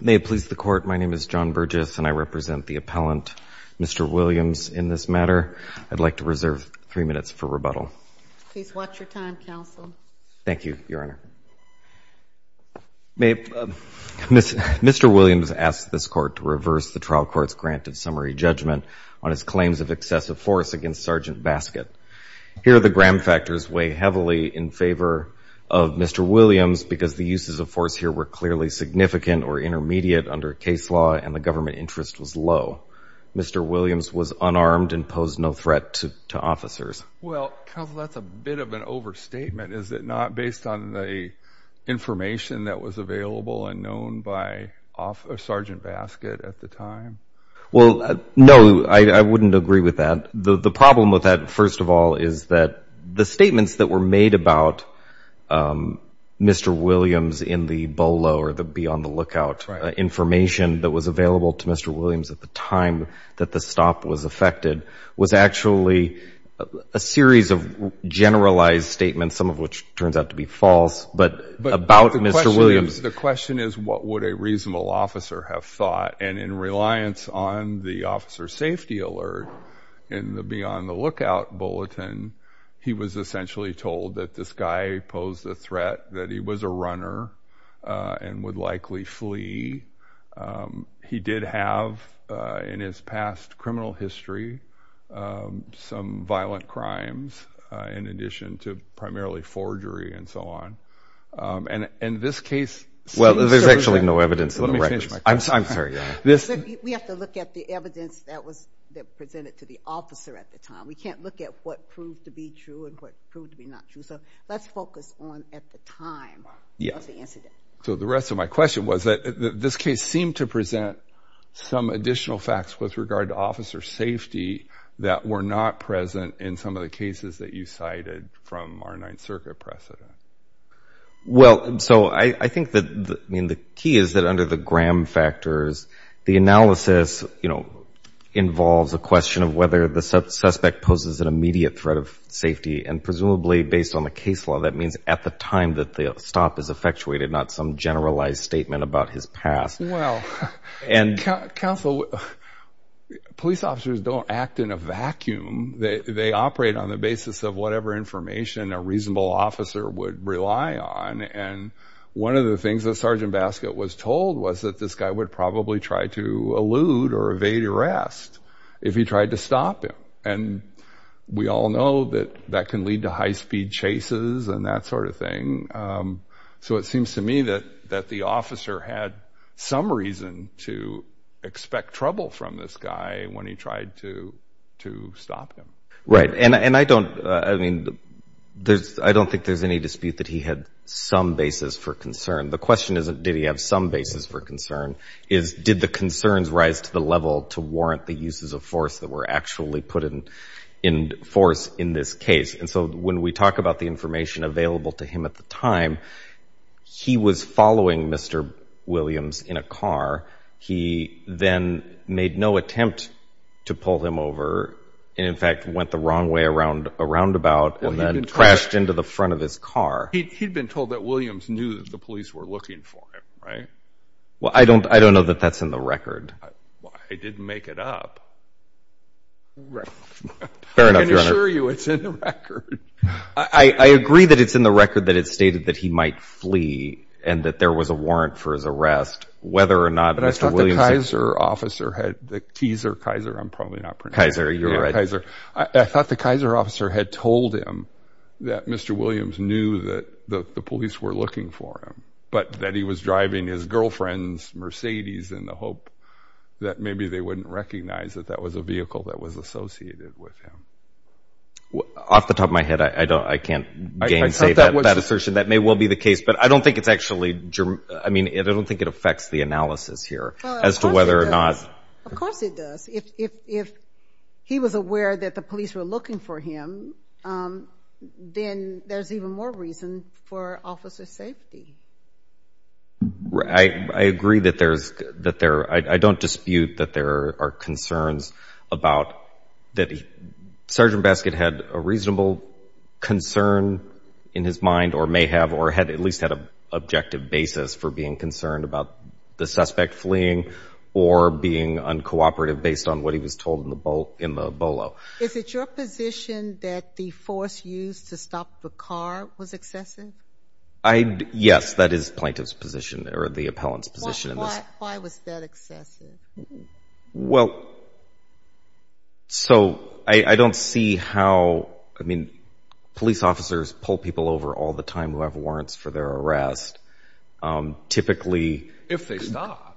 May it please the Court, my name is John Burgess and I represent the appellant, Mr. Williams, in this matter. I'd like to reserve three minutes for rebuttal. Please watch your time, counsel. Thank you, Your Honor. Mr. Williams asked this Court to reverse the trial court's granted summary judgment on his claims of excessive force against Sgt. Baskett. Here the Graham factors weigh heavily in favor of Mr. Williams because the uses of force here were clearly significant or intermediate under case law and the government interest was low. Mr. Williams was unarmed and posed no threat to officers. Well, counsel, that's a bit of an overstatement, is it not, based on the information that was available and known by Sgt. Baskett at the time? Well, no, I wouldn't agree with that. The problem with that, first of all, is that the statements that were made about Mr. Williams in the BOLO or the beyond the lookout information that was available to Mr. Williams at the time that the stop was effected was actually a series of generalized statements, some of which turns out to be false, but about Mr. Williams. The question is what would a reasonable officer have thought? And in reliance on the officer safety alert in the beyond the lookout bulletin, he was essentially told that this guy posed a threat, that he was a runner and would likely flee. He did have, in his past criminal history, some violent crimes in addition to primarily forgery and so on. And this case... Well, there's actually no evidence in the records. Let me change my question. I'm sorry. We have to look at the evidence that was presented to the officer at the time. We can't look at what proved to be true and what proved to be not true. So let's focus on at the time of the incident. So the rest of my question was that this case seemed to present some additional facts with regard to officer safety that were not present in some of the cases that you cited from our State Circuit precedent. Well, so I think that, I mean, the key is that under the Graham factors, the analysis, you know, involves a question of whether the suspect poses an immediate threat of safety. And presumably based on the case law, that means at the time that the stop is effectuated, not some generalized statement about his past. Well, and counsel, police officers don't act in a vacuum. They operate on the basis of whatever information a reasonable officer would rely on. And one of the things that Sergeant Baskett was told was that this guy would probably try to elude or evade arrest if he tried to stop him. And we all know that that can lead to high speed chases and that sort of thing. So it seems to me that the officer had some reason to expect trouble from this guy when he tried to stop him. Right. And I don't, I mean, there's, I don't think there's any dispute that he had some basis for concern. The question isn't, did he have some basis for concern, is did the concerns rise to the level to warrant the uses of force that were actually put in force in this case? And so when we talk about the information available to him at the time, he was following Mr. Williams in a car. He then made no attempt to pull him over and in fact, went the wrong way around a roundabout and then crashed into the front of his car. He'd been told that Williams knew that the police were looking for him, right? Well, I don't, I don't know that that's in the record. I didn't make it up. Right. Fair enough. I can assure you it's in the record. I agree that it's in the record that it's stated that he might flee and that there was a warrant for his arrest, whether or not Mr. Williams... But I thought the Kaiser officer had, the teaser, Kaiser, I'm probably not pronouncing it. Kaiser, you're right. Kaiser. I thought the Kaiser officer had told him that Mr. Williams knew that the police were looking for him, but that he was driving his girlfriend's Mercedes in the hope that maybe they wouldn't recognize that that was a vehicle that was associated with him. Well, off the top of my head, I don't, I can't gainsay that assertion. That may well be the case, but I don't think it's actually, I mean, I don't think it affects the analysis here as to whether or not... Of course it does. If, if, if he was aware that the police were looking for him, then there's even more reason for officer safety. Right. I agree that there's, that there, I don't dispute that there are concerns about that he, Sergeant Baskett had a reasonable concern in his mind or may have, or had at least had a objective basis for being concerned about the suspect fleeing or being uncooperative based on what he was told in the Bolo. Is it your position that the force used to stop the car was excessive? I, yes, that is plaintiff's position or the Well, so I don't see how, I mean, police officers pull people over all the time who have warrants for their arrest. Typically... If they stop.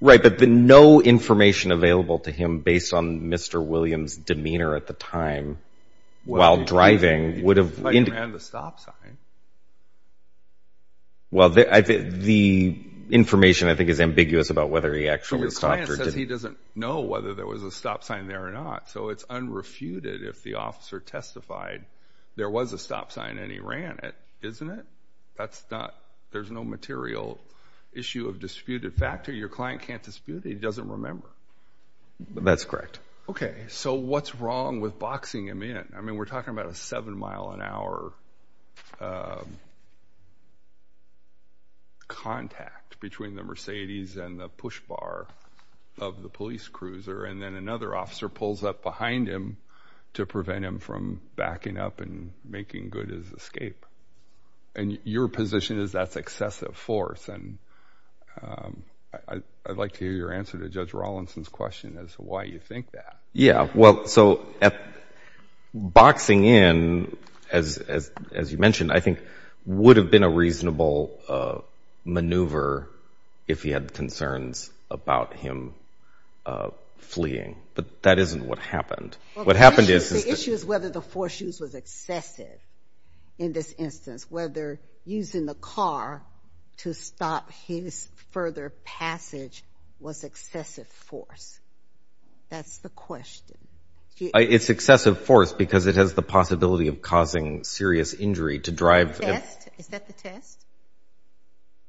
Right. But the no information available to him based on Mr. Williams' demeanor at the time while driving would have... Well, he might have ran the stop sign. Well, the information I think is ambiguous about whether he actually stopped or didn't. He doesn't know whether there was a stop sign there or not. So it's unrefuted if the officer testified there was a stop sign and he ran it, isn't it? That's not, there's no material issue of disputed factor. Your client can't dispute it. He doesn't remember. That's correct. Okay, so what's about a seven mile an hour contact between the Mercedes and the push bar of the police cruiser? And then another officer pulls up behind him to prevent him from backing up and making good his escape. And your position is that's excessive force. And I'd like to hear your answer to Judge as you mentioned, I think would have been a reasonable maneuver if he had concerns about him fleeing. But that isn't what happened. What happened is... The issue is whether the force used was excessive in this instance. Whether using the car to stop his further passage was excessive force. That's the question. It's excessive force because it has the possibility of causing serious injury to drive. Is that the test?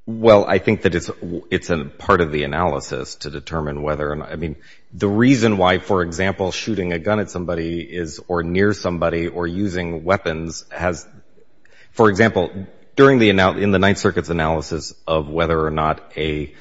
Well, I think that it's a part of the analysis to determine whether, I mean, the reason why, for example, shooting a gun at somebody is or near somebody or using weapons has, for example, during the, in the Ninth Circuit's analysis of whether or not a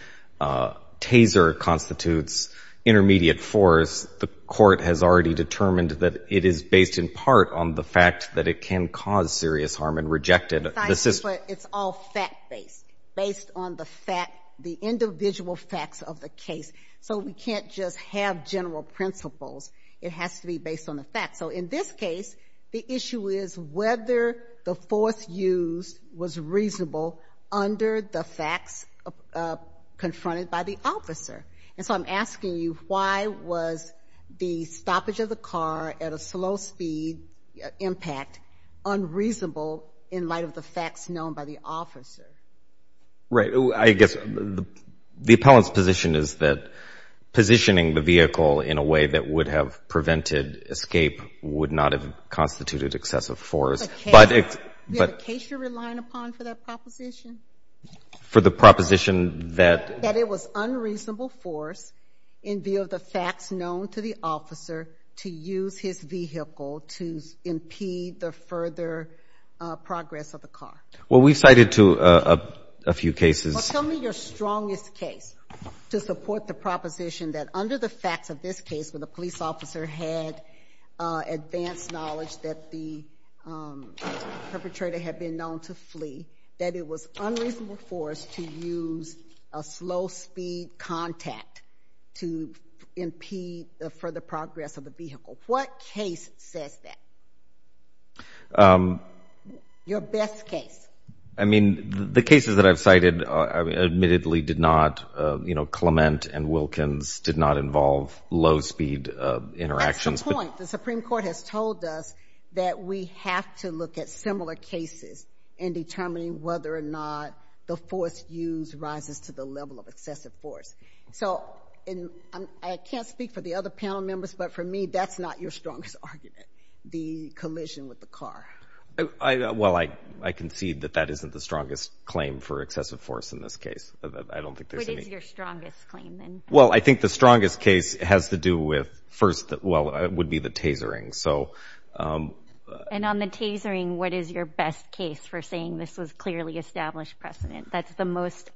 taser constitutes intermediate force, the court has already determined that it is based in part on the fact that it can cause serious harm and reject it. It's all fact-based, based on the fact, the individual facts of the case. So we can't just have general principles. It has to be based on the facts. So in this case, the issue is whether the force used was reasonable under the facts confronted by the officer. And so I'm asking you, why was the stoppage of the car at a slow speed impact unreasonable in light of the facts known by the officer? Right. I guess the appellant's position is that positioning the vehicle in a way that would have prevented escape would not have That it was unreasonable force in view of the facts known to the officer to use his vehicle to impede the further progress of the car. Well, we've cited to a few cases. Tell me your strongest case to support the proposition that under the facts of this case, when the police officer had advanced knowledge that the perpetrator had been known to flee, that it was unreasonable force to use a slow speed contact to impede the further progress of the vehicle. What case says that? Your best case. I mean, the cases that I've cited, admittedly did not, you know, Clement and Wilkins did not involve low speed interactions. That's the point. The Supreme Court has told us that we have to look at similar cases in determining whether or not the force used rises to the level of excessive force. So I can't speak for the other panel members, but for me, that's not your strongest argument. The collision with the car. Well, I concede that that isn't the strongest claim for excessive force in this case. I don't think there's any. What is your strongest claim? Well, I And on the tasering, what is your best case for saying this was clearly established precedent? That's the most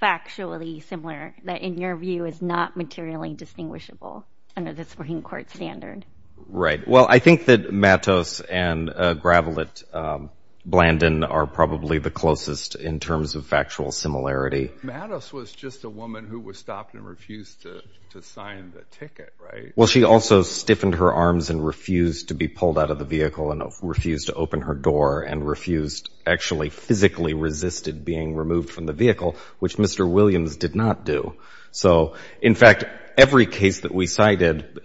factually similar that, in your view, is not materially distinguishable under the Supreme Court standard. Right. Well, I think that Mattos and Gravelit Blandon are probably the closest in terms of factual similarity. Mattos was just a woman who was stopped and refused to sign the ticket. Right. Well, she also stiffened her arms and refused to be pulled out of the vehicle and refused to open her door and refused actually physically resisted being removed from the vehicle, which Mr. Williams did not do. So, in fact, every case that we cited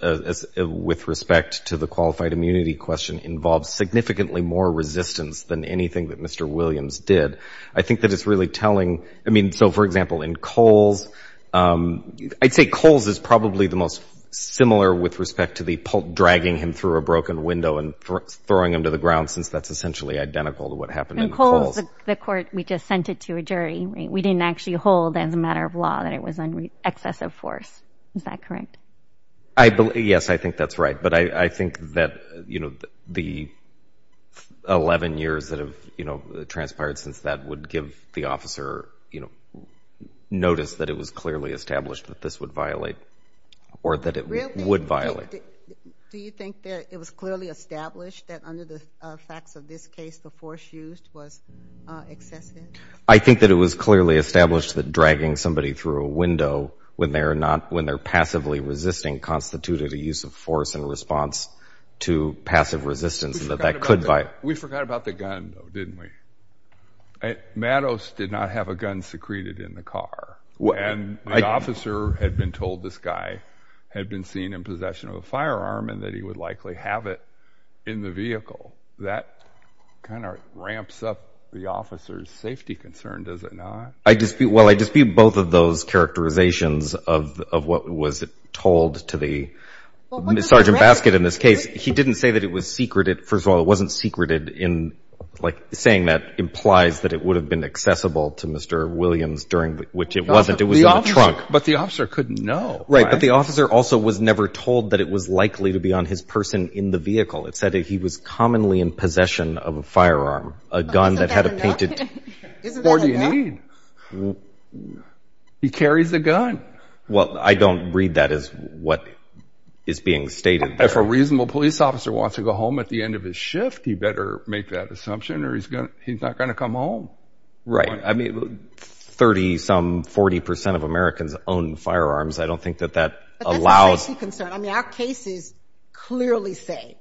with respect to the qualified immunity question involves significantly more resistance than anything that Mr. Williams did. I think that it's really telling. I mean, so, for example, in Coles, I'd say Coles is probably the most similar with respect to the dragging him through a broken window and throwing him to the ground, since that's essentially identical to what happened in Coles. In Coles, the court, we just sent it to a jury. We didn't actually hold as a matter of law that it was an excessive force. Is that correct? Yes, I think that's right. But I think that the 11 years that have, you know, transpired since that would give the officer, you know, notice that it was clearly established that this would violate or that it would violate. Do you think that it was clearly established that under the facts of this case, the force used was excessive? I think that it was clearly established that dragging somebody through a window when they're not when they're passively resisting constituted a use of force in response to passive resistance that that could violate. We forgot about the gun, didn't we? Mattos did not have a gun secreted in the car. And the officer had been told this guy had been seen in possession of a firearm and that he would likely have it in the vehicle. That kind of ramps up the officer's safety concern, does it not? I dispute, well, I dispute both of those First of all, it wasn't secreted in like saying that implies that it would have been accessible to Mr. Williams during which it wasn't. It was in the trunk. But the officer couldn't know. Right. But the officer also was never told that it was likely to be on his person in the vehicle. It said that he was commonly in possession of a firearm, a gun that had a painted. Isn't that a gun? What do you need? He carries a gun. Well, I don't read that as what is being stated. If a reasonable police officer wants to go home at the end of his shift, he better make that assumption or he's going to he's not going to come home. Right. I mean, 30, some 40 percent of Americans own firearms. I don't think that that allows concern. I mean, our cases clearly say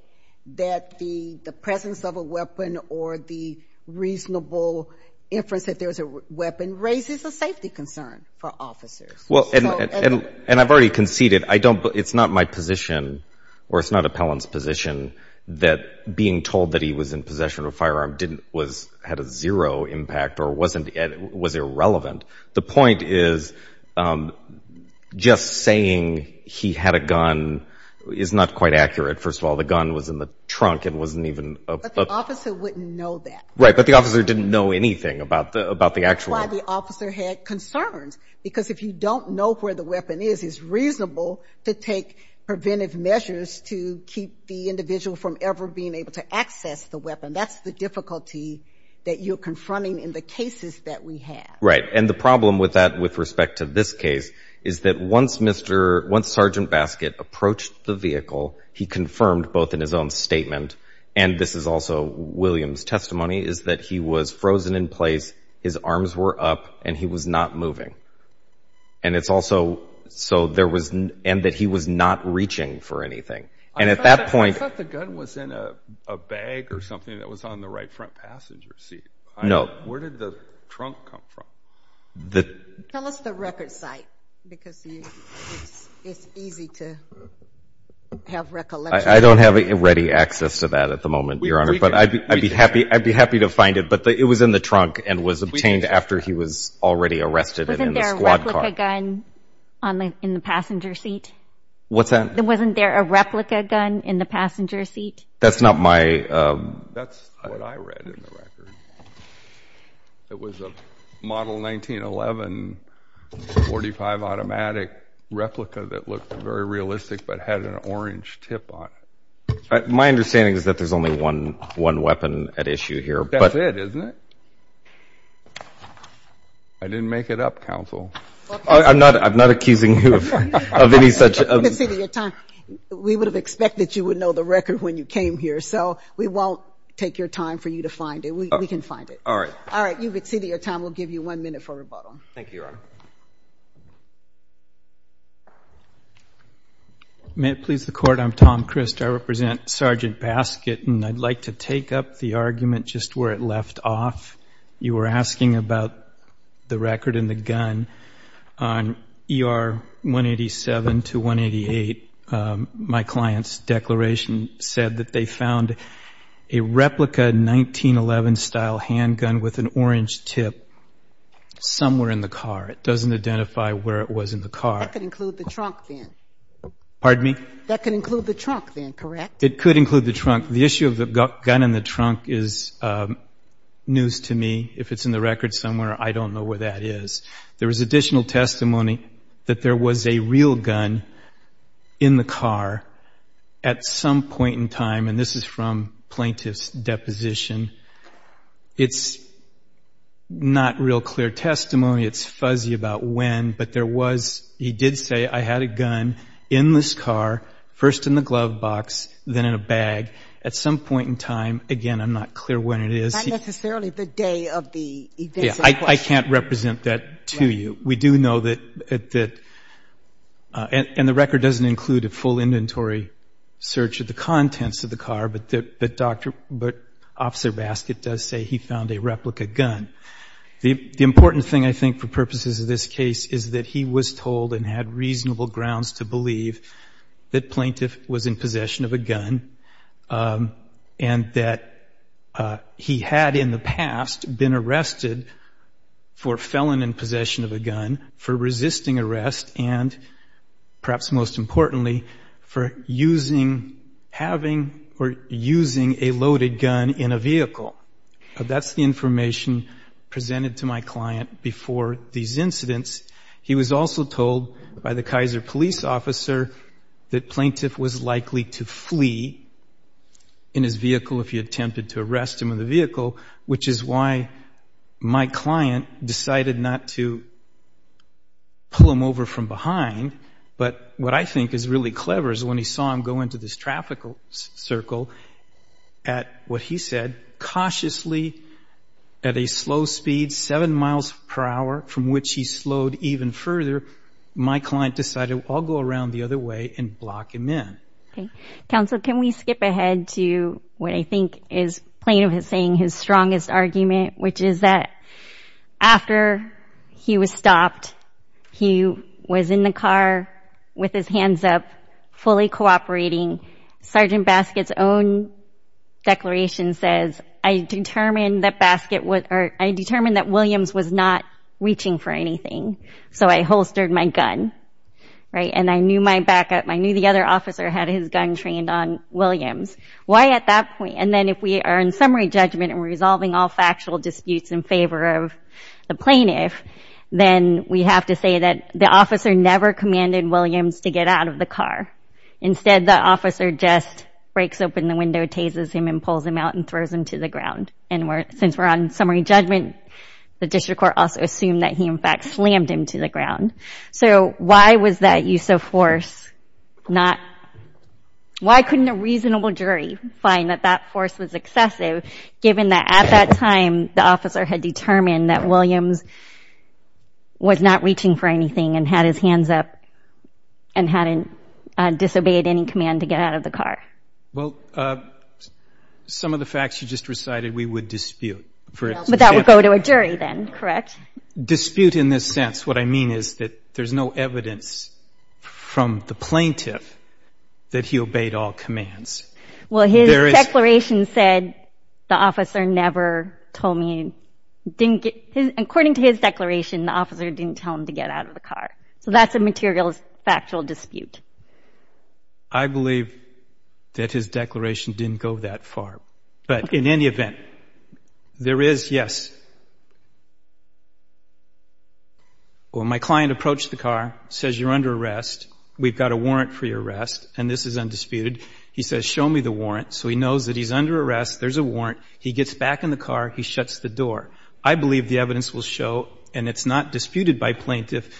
that the the presence of a weapon or the reasonable inference that there is a weapon raises a safety concern for officers. Well, and I've already conceded I don't it's not my position or it's not appellant's position that being told that he was in possession of a firearm didn't was had a zero impact or wasn't was irrelevant. The point is just saying he had a gun is not quite accurate. First of all, the gun was in the trunk. It wasn't even the officer wouldn't know that. Right. But the officer didn't know anything about the about the actual why the officer had concerns, because if you don't know where the weapon is, it's reasonable to take preventive measures to keep the individual from ever being able to access the weapon. That's the difficulty that you're confronting in the cases that we have. Right. And the problem with that, with respect to this case, is that once Mr. once Sergeant in place, his arms were up and he was not moving. And it's also so there was and that he was not reaching for anything. And at that point, the gun was in a bag or something that was on the right front passenger seat. No. Where did the trunk come from? The tell us the record site, because it's easy to have recollection. I don't have ready access to that at the moment, Your Honor, but I'd be happy. I'd be in the trunk and was obtained after he was already arrested in the squad car gun in the passenger seat. What's that? There wasn't there a replica gun in the passenger seat. That's not my that's what I read. It was a model 1911 45 automatic replica that looked very My understanding is that there's only one one weapon at issue here. That's it, isn't it? I didn't make it up, counsel. I'm not I'm not accusing you of any such time. We would have expected you would know the record when you came here. So we won't take your time for you to find it. We can find it. All right. May it please the court. I'm Tom Christ. I represent Sergeant Basket, and I'd like to take up the argument just where it left off. You were asking about the record in the gun on ER 187 to 188. My client's declaration said that they found a replica 1911 style handgun with an orange tip somewhere in the car. It doesn't identify where it was in the car. That could include the trunk then, correct? It could include the trunk. The issue of the gun in the trunk is news to me. If it's in the record somewhere, I don't know where that is. There was additional testimony that there was a real gun in the car at some point in time, and this is from plaintiff's deposition. It's not real clear testimony. It's fuzzy about when, but there was, he did say, I had a gun in this car, first in the glove box, then in a bag at some point in time. Again, I'm not clear when it is. Not And the record doesn't include a full inventory search of the contents of the car, but Officer Basket does say he found a replica gun. The important thing, I think, for purposes of this case is that he was told and had reasonable grounds to believe that plaintiff was in possession of a gun, and that he had, in the past, been arrested for felon in possession of a gun, for resisting arrest, and perhaps most importantly, for using, having or using a loaded gun in a vehicle. That's the information presented to my client before these incidents. He was also told by the Kaiser police officer that the plaintiff was likely to flee in his vehicle if he attempted to arrest him in the vehicle, which is why my client decided not to pull him over from behind, but what I think is really clever is when he saw him go into this traffic circle, at what he said, cautiously, at a slow speed, 7 miles per hour, from which he slowed even further, my client decided, I'll go around the other way and block him in. Okay. Counsel, can we skip ahead to what I think is plaintiff saying his strongest argument, which is that after he was stopped, he was in the car with his So I holstered my gun, right, and I knew my backup, I knew the other officer had his gun trained on Williams. Why, at that point, and then if we are in summary judgment and resolving all factual disputes in favor of the plaintiff, then we have to say that the officer never commanded Williams to get out of the car. Instead, the officer just breaks open the window, tazes him, and pulls him out and throws him to the ground. And since we're on summary judgment, the district court also assumed that he, in fact, slammed him to the ground. So why was that use of force not, why couldn't a reasonable jury find that that force was excessive, given that at that time, the officer had determined that Williams was not Well, some of the facts you just recited, we would dispute. But that would go to a jury then, correct? Dispute in this sense, what I mean is that there's no evidence from the plaintiff that he obeyed all commands. Well, his declaration said the officer never told me, according to his declaration, the officer didn't tell him to get out of the car. So that's a material, factual dispute. I believe that his declaration didn't go that far. But in any event, there is, yes. When my client approached the car, says, you're under arrest, we've got a warrant for your arrest, and this is undisputed, he says, show me the warrant. So he knows that he's under arrest, there's a warrant. He gets back in the car, he shuts the door. I believe the evidence will show, and it's not disputed by plaintiff,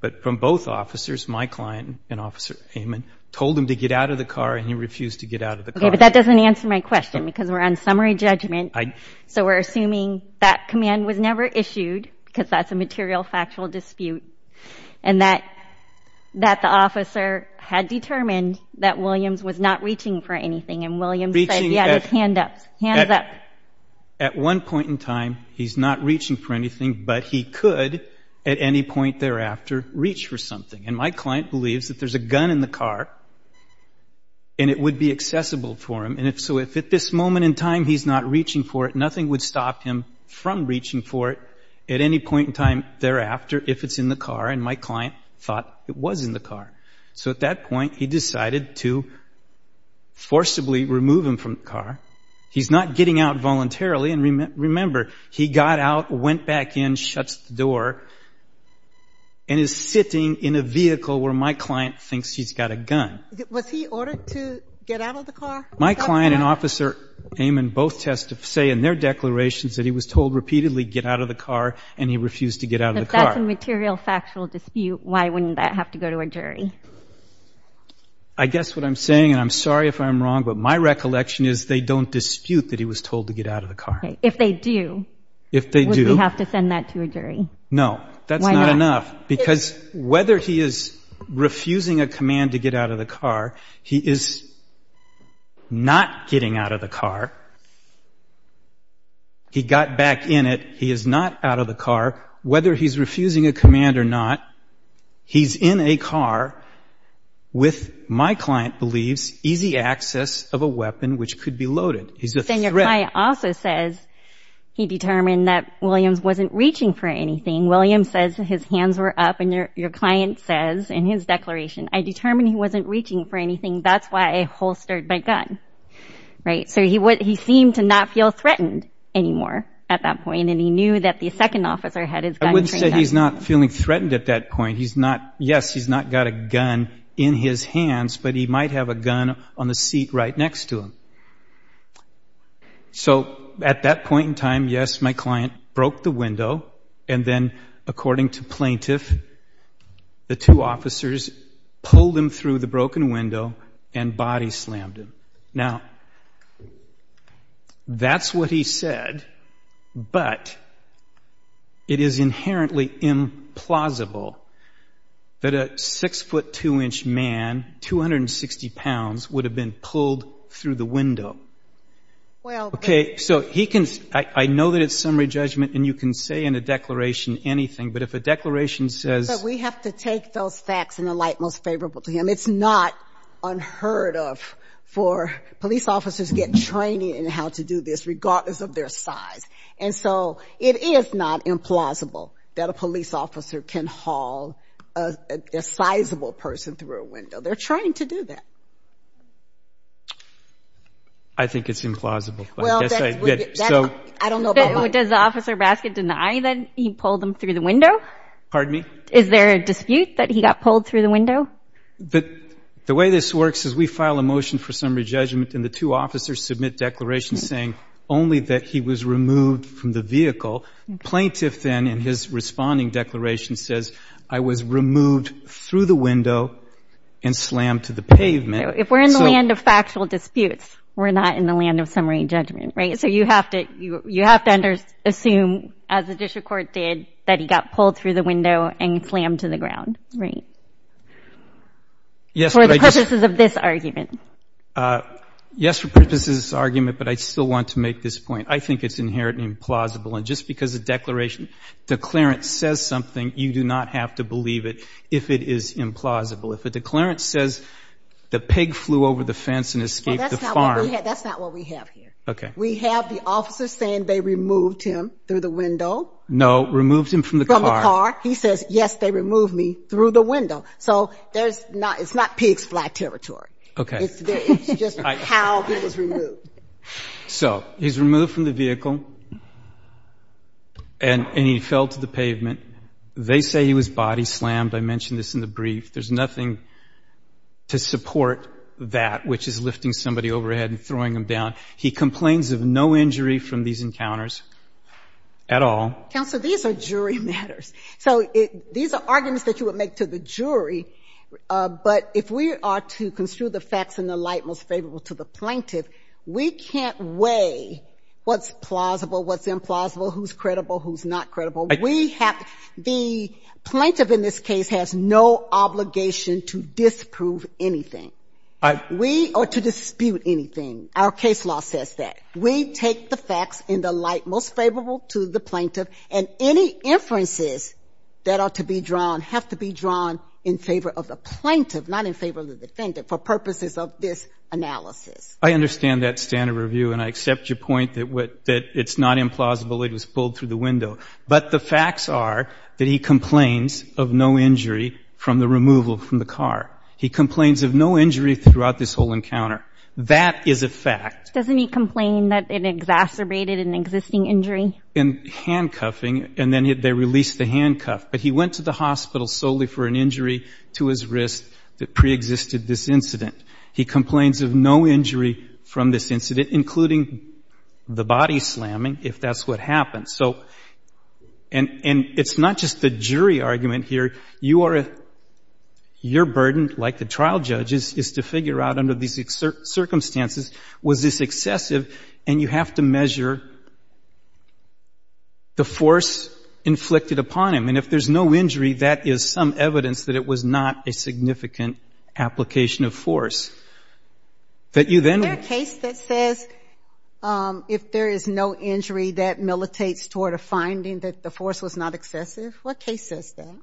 but from both officers, my client and Officer Heyman, told him to get out of the car, and he refused to get out of the car. Okay, but that doesn't answer my question, because we're on summary judgment. So we're assuming that command was never issued, because that's a material, factual dispute, and that the officer had determined that Williams was not reaching for anything, and Williams said he had his hands up. At one point in time, he's not reaching for anything, but he could, at any point thereafter, reach for something. And my client believes that there's a gun in the car, and it would be accessible for him. And so if at this moment in time, he's not reaching for it, nothing would stop him from reaching for it at any point in time thereafter, if it's in the car. And my client thought it was in the car. So at that point, he decided to forcibly remove him from the car. He's not getting out voluntarily, and remember, he got out, went back in, shuts the door, and is sitting in a vehicle where my client thinks he's got a gun. Was he ordered to get out of the car? My client and Officer Heyman both say in their declarations that he was told repeatedly, get out of the car, and he refused to get out of the car. If that's a material, factual dispute, why wouldn't that have to go to a jury? I guess what I'm saying, and I'm sorry if I'm wrong, but my recollection is they don't dispute that he was told to get out of the car. If they do, would they have to send that to a jury? No, that's not enough. Because whether he is refusing a command to get out of the car, he is not getting out of the car, he got back in it, he is not out of the car. Whether he's refusing a command or not, he's in a car with, my client believes, easy access of a weapon which could be loaded. Then your client also says he determined that Williams wasn't reaching for anything. Williams says his hands were up, and your client says in his declaration, I determined he wasn't reaching for anything, that's why I holstered my gun. So he seemed to not feel threatened anymore at that point, and he knew that the second officer had his gun trained on him. I wouldn't say he's not feeling threatened at that point. Yes, he's not got a gun in his hands, but he might have a gun on the seat right next to him. So at that point in time, yes, my client broke the window, and then according to plaintiff, the two officers pulled him through the broken window and body slammed him. Now, that's what he said, but it is inherently implausible that a 6 foot 2 inch man, 260 pounds, would have been pulled through the window. Okay, so he can, I know that it's summary judgment, and you can say in a declaration anything, but if a declaration says But we have to take those facts in a light most favorable to him. It's not unheard of for police officers to get training in how to do this, regardless of their size. And so it is not implausible that a police officer can haul a sizable person through a window. They're trying to do that. I think it's implausible. Well, I don't know about mine. Does Officer Baskin deny that he pulled him through the window? Pardon me? Is there a dispute that he got pulled through the window? The way this works is we file a motion for summary judgment, and the two officers submit declarations saying only that he was removed from the vehicle. Plaintiff then, in his responding declaration, says, I was removed through the window and slammed to the pavement. So if we're in the land of factual disputes, we're not in the land of summary judgment, right? So you have to assume, as the district court did, that he got pulled through the window and slammed to the ground, right? Yes, but I just For the purposes of this argument. Yes, for purposes of this argument, but I still want to make this point. I think it's inherently implausible, and just because a declaration declarence says something, you do not have to believe it if it is implausible. If a declarence says the pig flew over the fence and escaped the farm. Well, that's not what we have here. Okay. We have the officers saying they removed him through the window. No, removed him from the car. From the car. He says, yes, they removed me through the window. So there's not, it's not pigs fly territory. Okay. It's just how he was removed. So he's removed from the vehicle, and he fell to the pavement. They say he was body slammed. I mentioned this in the brief. There's nothing to support that, which is lifting somebody overhead and throwing them down. He complains of no injury from these encounters at all. Counsel, these are jury matters. So these are arguments that you would make to the jury. But if we are to construe the facts in the light most favorable to the plaintiff, we can't weigh what's plausible, what's implausible, who's credible, who's not credible. The plaintiff in this case has no obligation to disprove anything. We are to dispute anything. Our case law says that. We take the facts in the light most favorable to the plaintiff, and any inferences that are to be drawn have to be drawn in favor of the plaintiff, not in favor of the defendant, for purposes of this analysis. I understand that standard review, and I accept your point that it's not implausible he was pulled through the window. But the facts are that he complains of no injury from the removal from the car. He complains of no injury throughout this whole encounter. That is a fact. Doesn't he complain that it exacerbated an existing injury? Well, in handcuffing, and then they released the handcuff, but he went to the hospital solely for an injury to his wrist that preexisted this incident. He complains of no injury from this incident, including the body slamming, if that's what happened. And it's not just the jury argument here. Your burden, like the trial judge's, is to figure out under these circumstances, was this excessive, and you have to measure the force inflicted upon him. And if there's no injury, that is some evidence that it was not a significant application of force. Is there a case that says if there is no injury, that militates toward a finding that the force was not excessive? What case says that?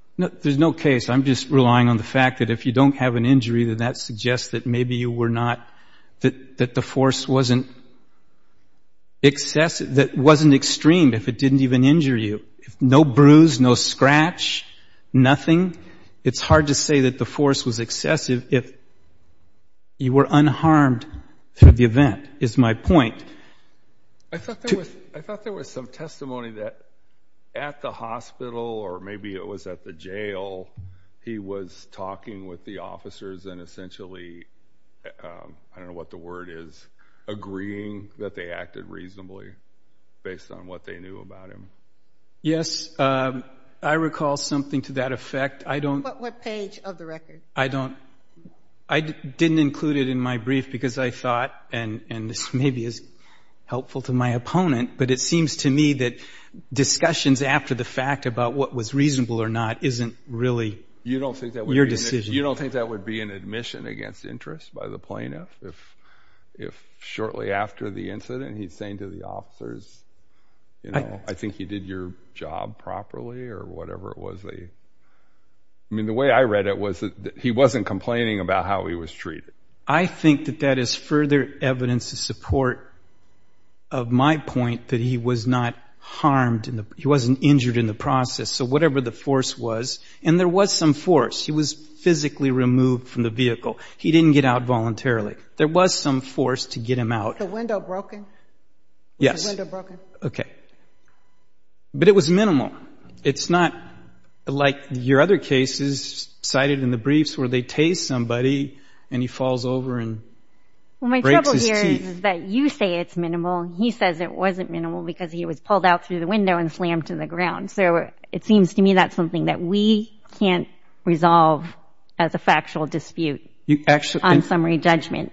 There's no case. that maybe you were not, that the force wasn't excessive, that it wasn't extreme if it didn't even injure you. No bruise, no scratch, nothing. It's hard to say that the force was excessive if you were unharmed through the event, is my point. I thought there was some testimony that at the hospital, or maybe it was at the jail, he was talking with the officers and essentially, I don't know what the word is, agreeing that they acted reasonably based on what they knew about him. Yes, I recall something to that effect. What page of the record? I didn't include it in my brief because I thought, and this maybe is helpful to my opponent, but it seems to me that discussions after the fact about what was reasonable or not isn't really your decision. You don't think that would be an admission against interest by the plaintiff if shortly after the incident he's saying to the officers, I think you did your job properly or whatever it was. I mean, the way I read it was that he wasn't complaining about how he was treated. I think that that is further evidence to support of my point that he was not harmed. He wasn't injured in the process. So whatever the force was, and there was some force. He was physically removed from the vehicle. He didn't get out voluntarily. There was some force to get him out. Was the window broken? Yes. Was the window broken? Okay. But it was minimal. It's not like your other cases cited in the briefs where they tase somebody and he falls over and breaks his teeth. Well, my trouble here is that you say it's minimal. He says it wasn't minimal because he was pulled out through the window and slammed to the ground. So it seems to me that's something that we can't resolve as a factual dispute on summary judgment.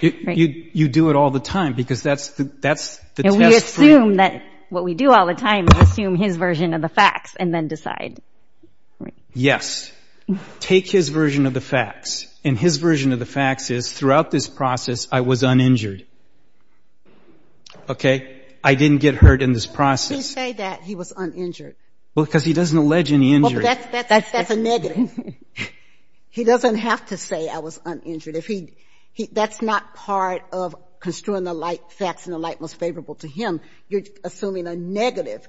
You do it all the time because that's the test for you. I assume that what we do all the time is assume his version of the facts and then decide. Yes. Take his version of the facts, and his version of the facts is throughout this process I was uninjured. Okay? I didn't get hurt in this process. Why would he say that he was uninjured? Because he doesn't allege any injury. That's a negative. He doesn't have to say I was uninjured. That's not part of construing the light facts and the light most favorable to him. You're assuming a negative.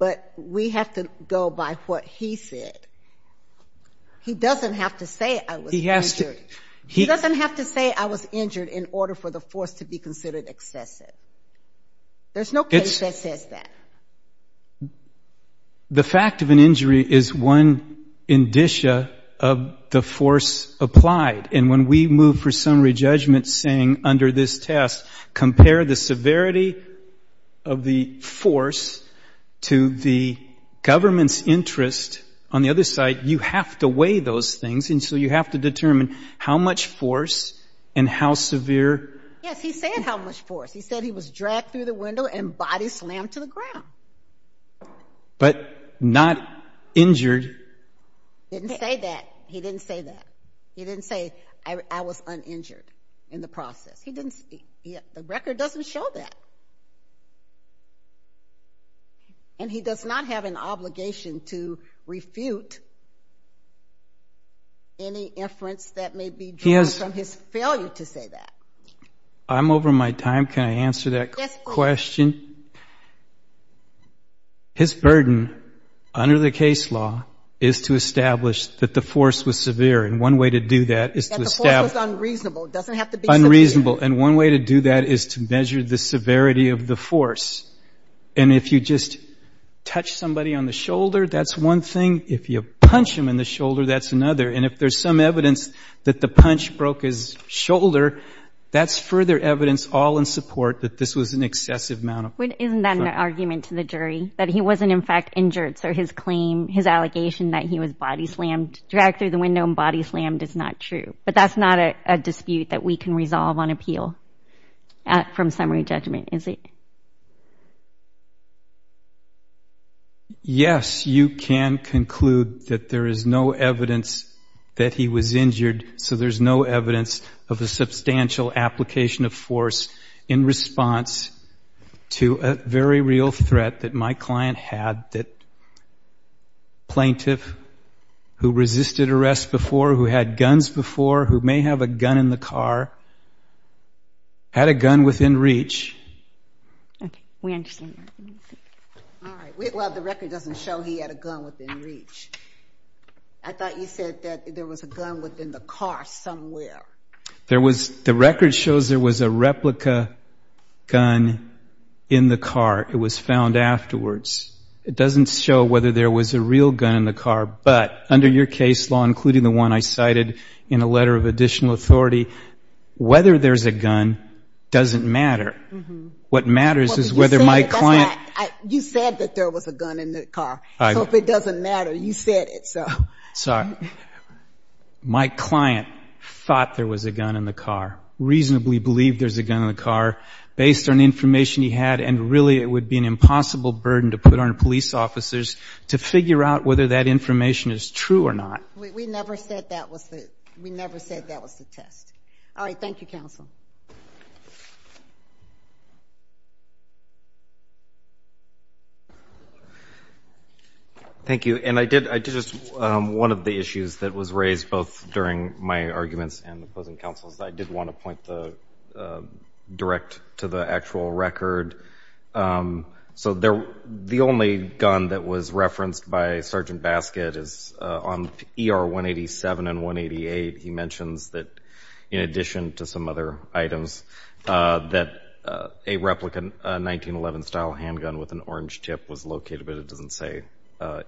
But we have to go by what he said. He doesn't have to say I was injured. He doesn't have to say I was injured in order for the force to be considered excessive. There's no case that says that. The fact of an injury is one indicia of the force applied. And when we move for summary judgment saying under this test, compare the severity of the force to the government's interest on the other side, you have to weigh those things, and so you have to determine how much force and how severe. Yes, he said how much force. He said he was dragged through the window and body slammed to the ground. But not injured. He didn't say that. He didn't say that. He didn't say I was uninjured in the process. The record doesn't show that. And he does not have an obligation to refute any inference that may be drawn from his failure to say that. I'm over my time. Yes, please. His burden under the case law is to establish that the force was severe. And one way to do that is to establish. That the force was unreasonable. It doesn't have to be severe. Unreasonable. And one way to do that is to measure the severity of the force. And if you just touch somebody on the shoulder, that's one thing. If you punch him in the shoulder, that's another. And if there's some evidence that the punch broke his shoulder, that's further evidence all in support that this was an excessive amount of force. Isn't that an argument to the jury? That he wasn't, in fact, injured. So his claim, his allegation that he was body slammed, dragged through the window and body slammed is not true. But that's not a dispute that we can resolve on appeal from summary judgment, is it? Yes, you can conclude that there is no evidence that he was injured. So there's no evidence of a substantial application of force in response to a very real threat that my client had. That plaintiff who resisted arrest before, who had guns before, who may have a gun in the car, had a gun within reach. Okay. We understand that. All right. Well, the record doesn't show he had a gun within reach. I thought you said that there was a gun within the car somewhere. There was. The record shows there was a replica gun in the car. It was found afterwards. It doesn't show whether there was a real gun in the car. But under your case law, including the one I cited in a letter of additional authority, whether there's a gun doesn't matter. What matters is whether my client. You said that there was a gun in the car. So if it doesn't matter, you said it. Sorry. My client thought there was a gun in the car, reasonably believed there was a gun in the car, based on information he had, and really it would be an impossible burden to put on police officers to figure out whether that information is true or not. We never said that was the test. All right. Thank you, counsel. Thank you. And I did just one of the issues that was raised both during my arguments and the opposing counsel's. I did want to point the direct to the actual record. So the only gun that was referenced by Sergeant Baskett is on ER 187 and 188. He mentions that in addition to some other items, that a replica 1911 style handgun with an orange tip was located, but it doesn't say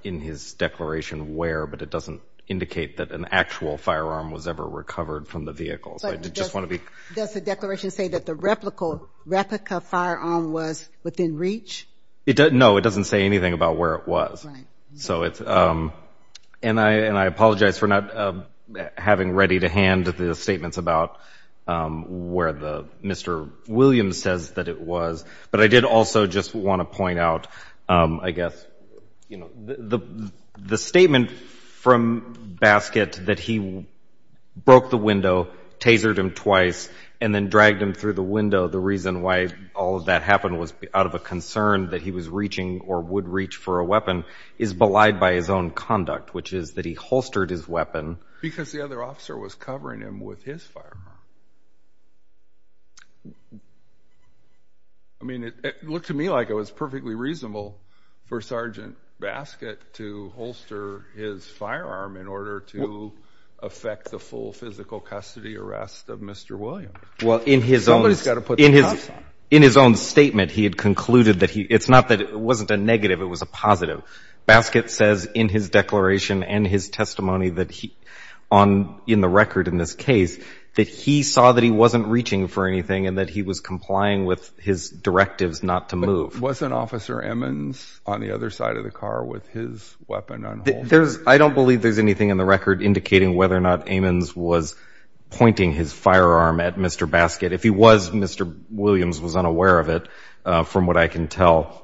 in his declaration where, but it doesn't indicate that an actual firearm was ever recovered from the vehicle. So I just want to be. Does the declaration say that the replica firearm was within reach? No, it doesn't say anything about where it was. Right. And I apologize for not having ready to hand the statements about where Mr. Williams says that it was. But I did also just want to point out, I guess, you know, the statement from Baskett that he broke the window, tasered him twice, and then dragged him through the window, the reason why all of that happened was out of a concern that he was reaching or would reach for a weapon, is belied by his own conduct, which is that he holstered his weapon. Because the other officer was covering him with his firearm. I mean, it looked to me like it was perfectly reasonable for Sergeant Baskett to holster his firearm in order to affect the full physical custody arrest of Mr. Williams. Well, in his own statement, he had concluded that it's not that it wasn't a negative, it was a positive. Baskett says in his declaration and his testimony in the record in this case that he saw that he wasn't reaching for anything and that he was complying with his directives not to move. But wasn't Officer Ammons on the other side of the car with his weapon on hold? I don't believe there's anything in the record indicating whether or not Ammons was pointing his firearm at Mr. Baskett. If he was, Mr. Williams was unaware of it, from what I can tell.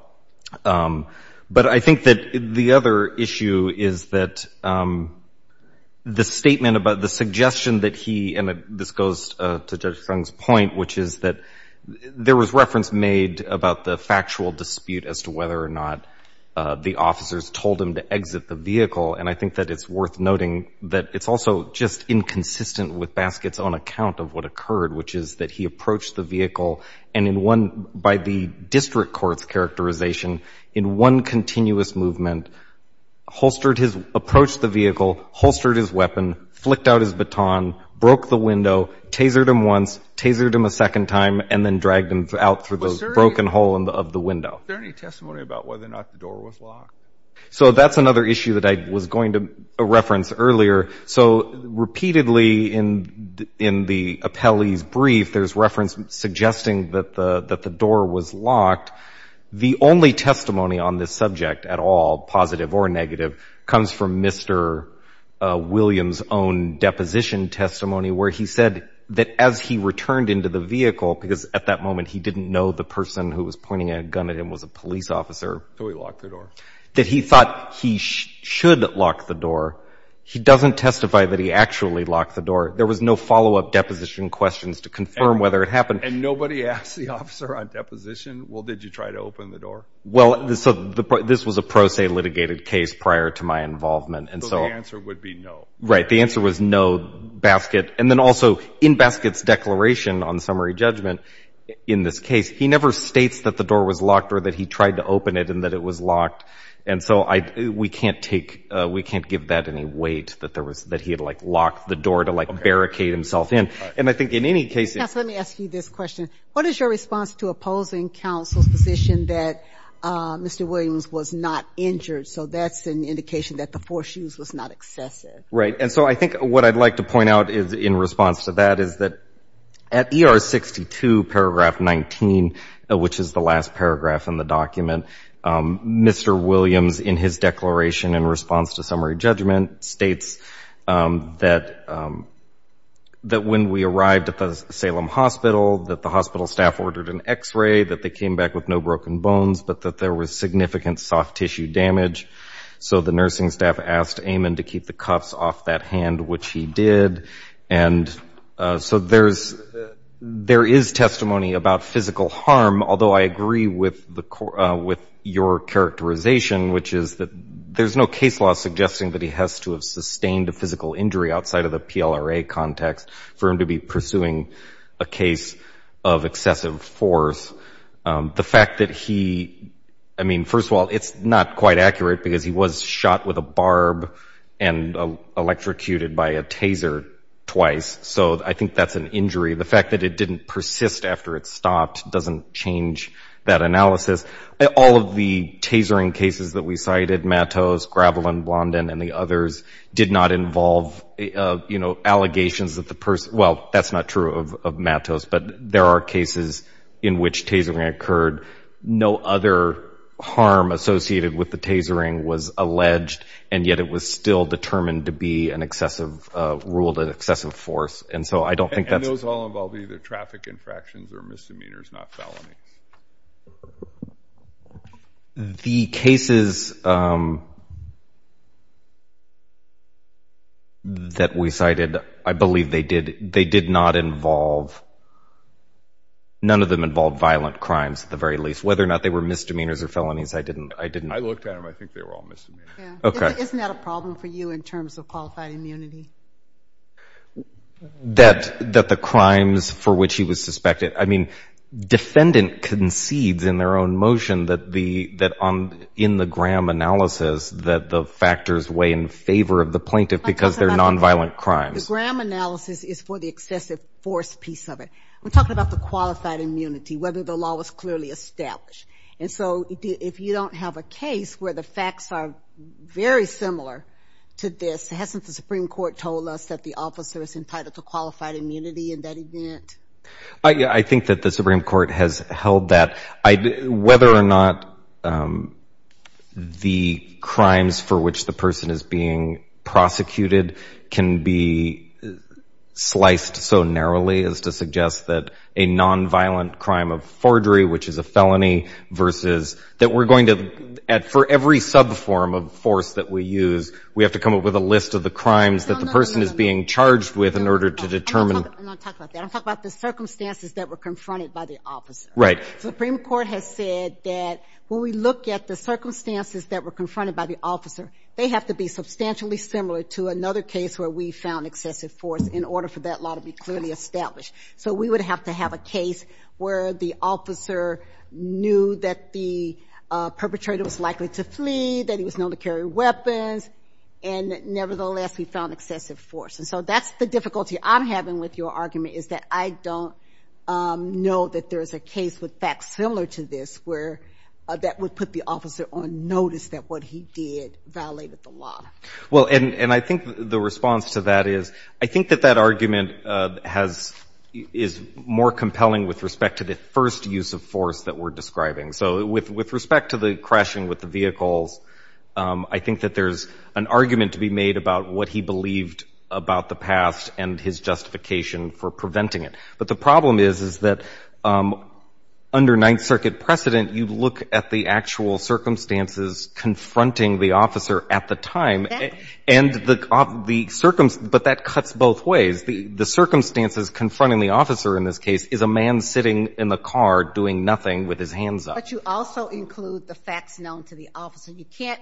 But I think that the other issue is that the statement about the suggestion that he, and this goes to Judge Sung's point, which is that there was reference made about the factual dispute as to whether or not the officers told him to exit the vehicle. And I think that it's worth noting that it's also just inconsistent with Baskett's own account of what occurred, which is that he approached the vehicle and in one, by the district court's characterization, in one continuous movement, holstered his, approached the vehicle, holstered his weapon, flicked out his baton, broke the window, tasered him once, tasered him a second time, and then dragged him out through the broken hole of the window. Is there any testimony about whether or not the door was locked? So that's another issue that I was going to reference earlier. So repeatedly in the appellee's brief, there's reference suggesting that the door was locked. The only testimony on this subject at all, positive or negative, comes from Mr. Williams' own deposition testimony where he said that as he returned into the vehicle, because at that moment he didn't know the person who was pointing a gun at him was a police officer. So he locked the door. That he thought he should lock the door. He doesn't testify that he actually locked the door. There was no follow-up deposition questions to confirm whether it happened. And nobody asked the officer on deposition, well, did you try to open the door? Well, this was a pro se litigated case prior to my involvement. So the answer would be no. Right. The answer was no, Baskett. Right. And then also in Baskett's declaration on summary judgment in this case, he never states that the door was locked or that he tried to open it and that it was locked. And so we can't take we can't give that any weight, that there was that he had like locked the door to like barricade himself in. And I think in any case. Counsel, let me ask you this question. What is your response to opposing counsel's position that Mr. Williams was not injured? So that's an indication that the foreshoes was not excessive. Right. And so I think what I'd like to point out in response to that is that at ER 62 paragraph 19, which is the last paragraph in the document, Mr. Williams in his declaration in response to summary judgment states that when we arrived at the Salem hospital, that the hospital staff ordered an x-ray, that they came back with no broken bones, but that there was significant soft tissue damage. So the nursing staff asked Eamon to keep the cuffs off that hand, which he did. And so there is testimony about physical harm, although I agree with your characterization, which is that there's no case law suggesting that he has to have sustained a physical injury outside of the PLRA context for him to be pursuing a case of excessive force. The fact that he, I mean, first of all, it's not quite accurate, because he was shot with a barb and electrocuted by a taser twice. So I think that's an injury. The fact that it didn't persist after it stopped doesn't change that analysis. All of the tasering cases that we cited, Mattos, Gravelin, Blondin, and the others, did not involve, you know, allegations that the person, well, that's not true of Mattos, but there are cases in which tasering occurred. No other harm associated with the tasering was alleged, and yet it was still determined to be an excessive rule, an excessive force. And so I don't think that's... And those all involve either traffic infractions or misdemeanors, not felonies. The cases that we cited, I believe they did not involve, none of them involved violent crimes at the very least. Whether or not they were misdemeanors or felonies, I didn't... I looked at them, I think they were all misdemeanors. Okay. Isn't that a problem for you in terms of qualified immunity? That the crimes for which he was suspected, I mean, the defendant concedes in their own motion that in the Graham analysis, that the factors weigh in favor of the plaintiff because they're nonviolent crimes. The Graham analysis is for the excessive force piece of it. We're talking about the qualified immunity, whether the law was clearly established. And so if you don't have a case where the facts are very similar to this, hasn't the Supreme Court told us that the officer is entitled to qualified immunity in that event? I think that the Supreme Court has held that. Whether or not the crimes for which the person is being prosecuted can be sliced so narrowly as to suggest that a nonviolent crime of forgery, which is a felony, versus that we're going to, for every subform of force that we use, we have to come up with a list of the crimes that the person is being charged with in order to determine... I'm not going to talk about that. I'm going to talk about the circumstances that were confronted by the officer. Right. The Supreme Court has said that when we look at the circumstances that were confronted by the officer, they have to be substantially similar to another case where we found excessive force in order for that law to be clearly established. So we would have to have a case where the officer knew that the perpetrator was likely to flee, that he was known to carry weapons, and nevertheless he found excessive force. And so that's the difficulty I'm having with your argument, is that I don't know that there's a case with facts similar to this that would put the officer on notice that what he did violated the law. Well, and I think the response to that is, I think that that argument is more compelling with respect to the first use of force that we're describing. So with respect to the crashing with the vehicles, I think that there's an argument to be made about what he believed about the past and his justification for preventing it. But the problem is, is that under Ninth Circuit precedent, you look at the actual circumstances confronting the officer at the time, but that cuts both ways. The circumstances confronting the officer in this case is a man sitting in the car doing nothing with his hands up. But you also include the facts known to the officer. You can't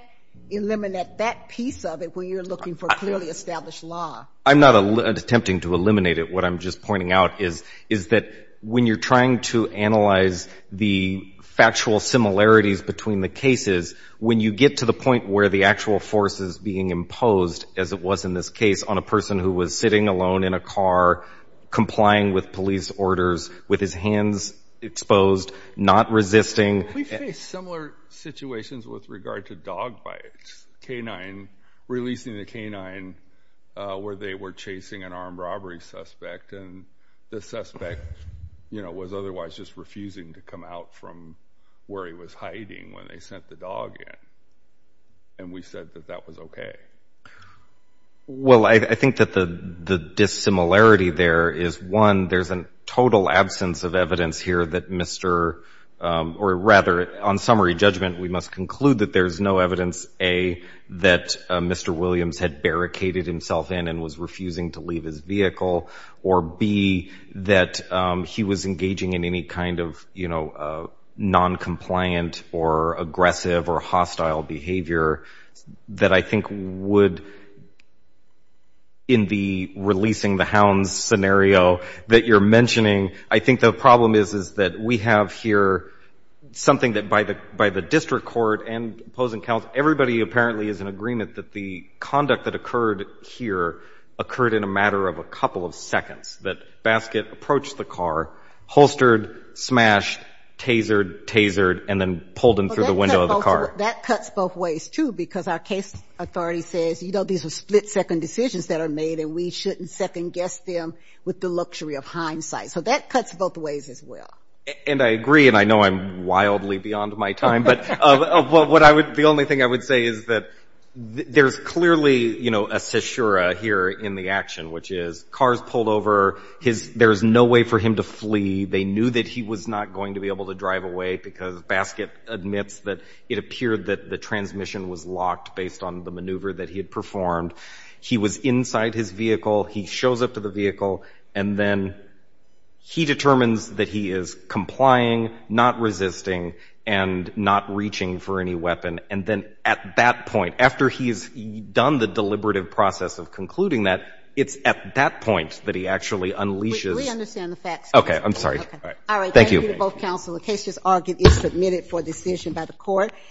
eliminate that piece of it when you're looking for clearly established law. I'm not attempting to eliminate it. What I'm just pointing out is that when you're trying to analyze the factual similarities between the cases, when you get to the point where the actual force is being imposed, as it was in this case, on a person who was sitting alone in a car, complying with police orders with his hands exposed, not resisting. We face similar situations with regard to dog bites. Canine releasing the canine where they were chasing an armed robbery suspect, and the suspect was otherwise just refusing to come out from where he was hiding when they sent the dog in. And we said that that was okay. Well, I think that the dissimilarity there is, one, there's a total absence of evidence here that Mr. Or rather, on summary judgment, we must conclude that there's no evidence, A, that Mr. Williams had barricaded himself in and was refusing to leave his vehicle, or B, that he was engaging in any kind of noncompliant or aggressive or hostile behavior that I think would, in the releasing the hounds scenario that you're mentioning, I think the problem is that we have here something that by the district court and opposing counsel, everybody apparently is in agreement that the conduct that occurred here occurred in a matter of a couple of seconds, that Baskett approached the car, holstered, smashed, tasered, tasered, and then pulled him through the window of the car. So that cuts both ways, too, because our case authority says, you know, these are split-second decisions that are made, and we shouldn't second-guess them with the luxury of hindsight. So that cuts both ways as well. And I agree, and I know I'm wildly beyond my time, but the only thing I would say is that there's clearly, you know, a caesura here in the action, which is car's pulled over, there's no way for him to flee, they knew that he was not going to be able to drive away because Baskett admits that it appeared that the transmission was locked based on the maneuver that he had performed. He was inside his vehicle. He shows up to the vehicle, and then he determines that he is complying, not resisting, and not reaching for any weapon. And then at that point, after he's done the deliberative process of concluding that, it's at that point that he actually unleashes the facts. Okay, I'm sorry. Thank you. Thank you to both counsel. The case is argued and submitted for decision by the court.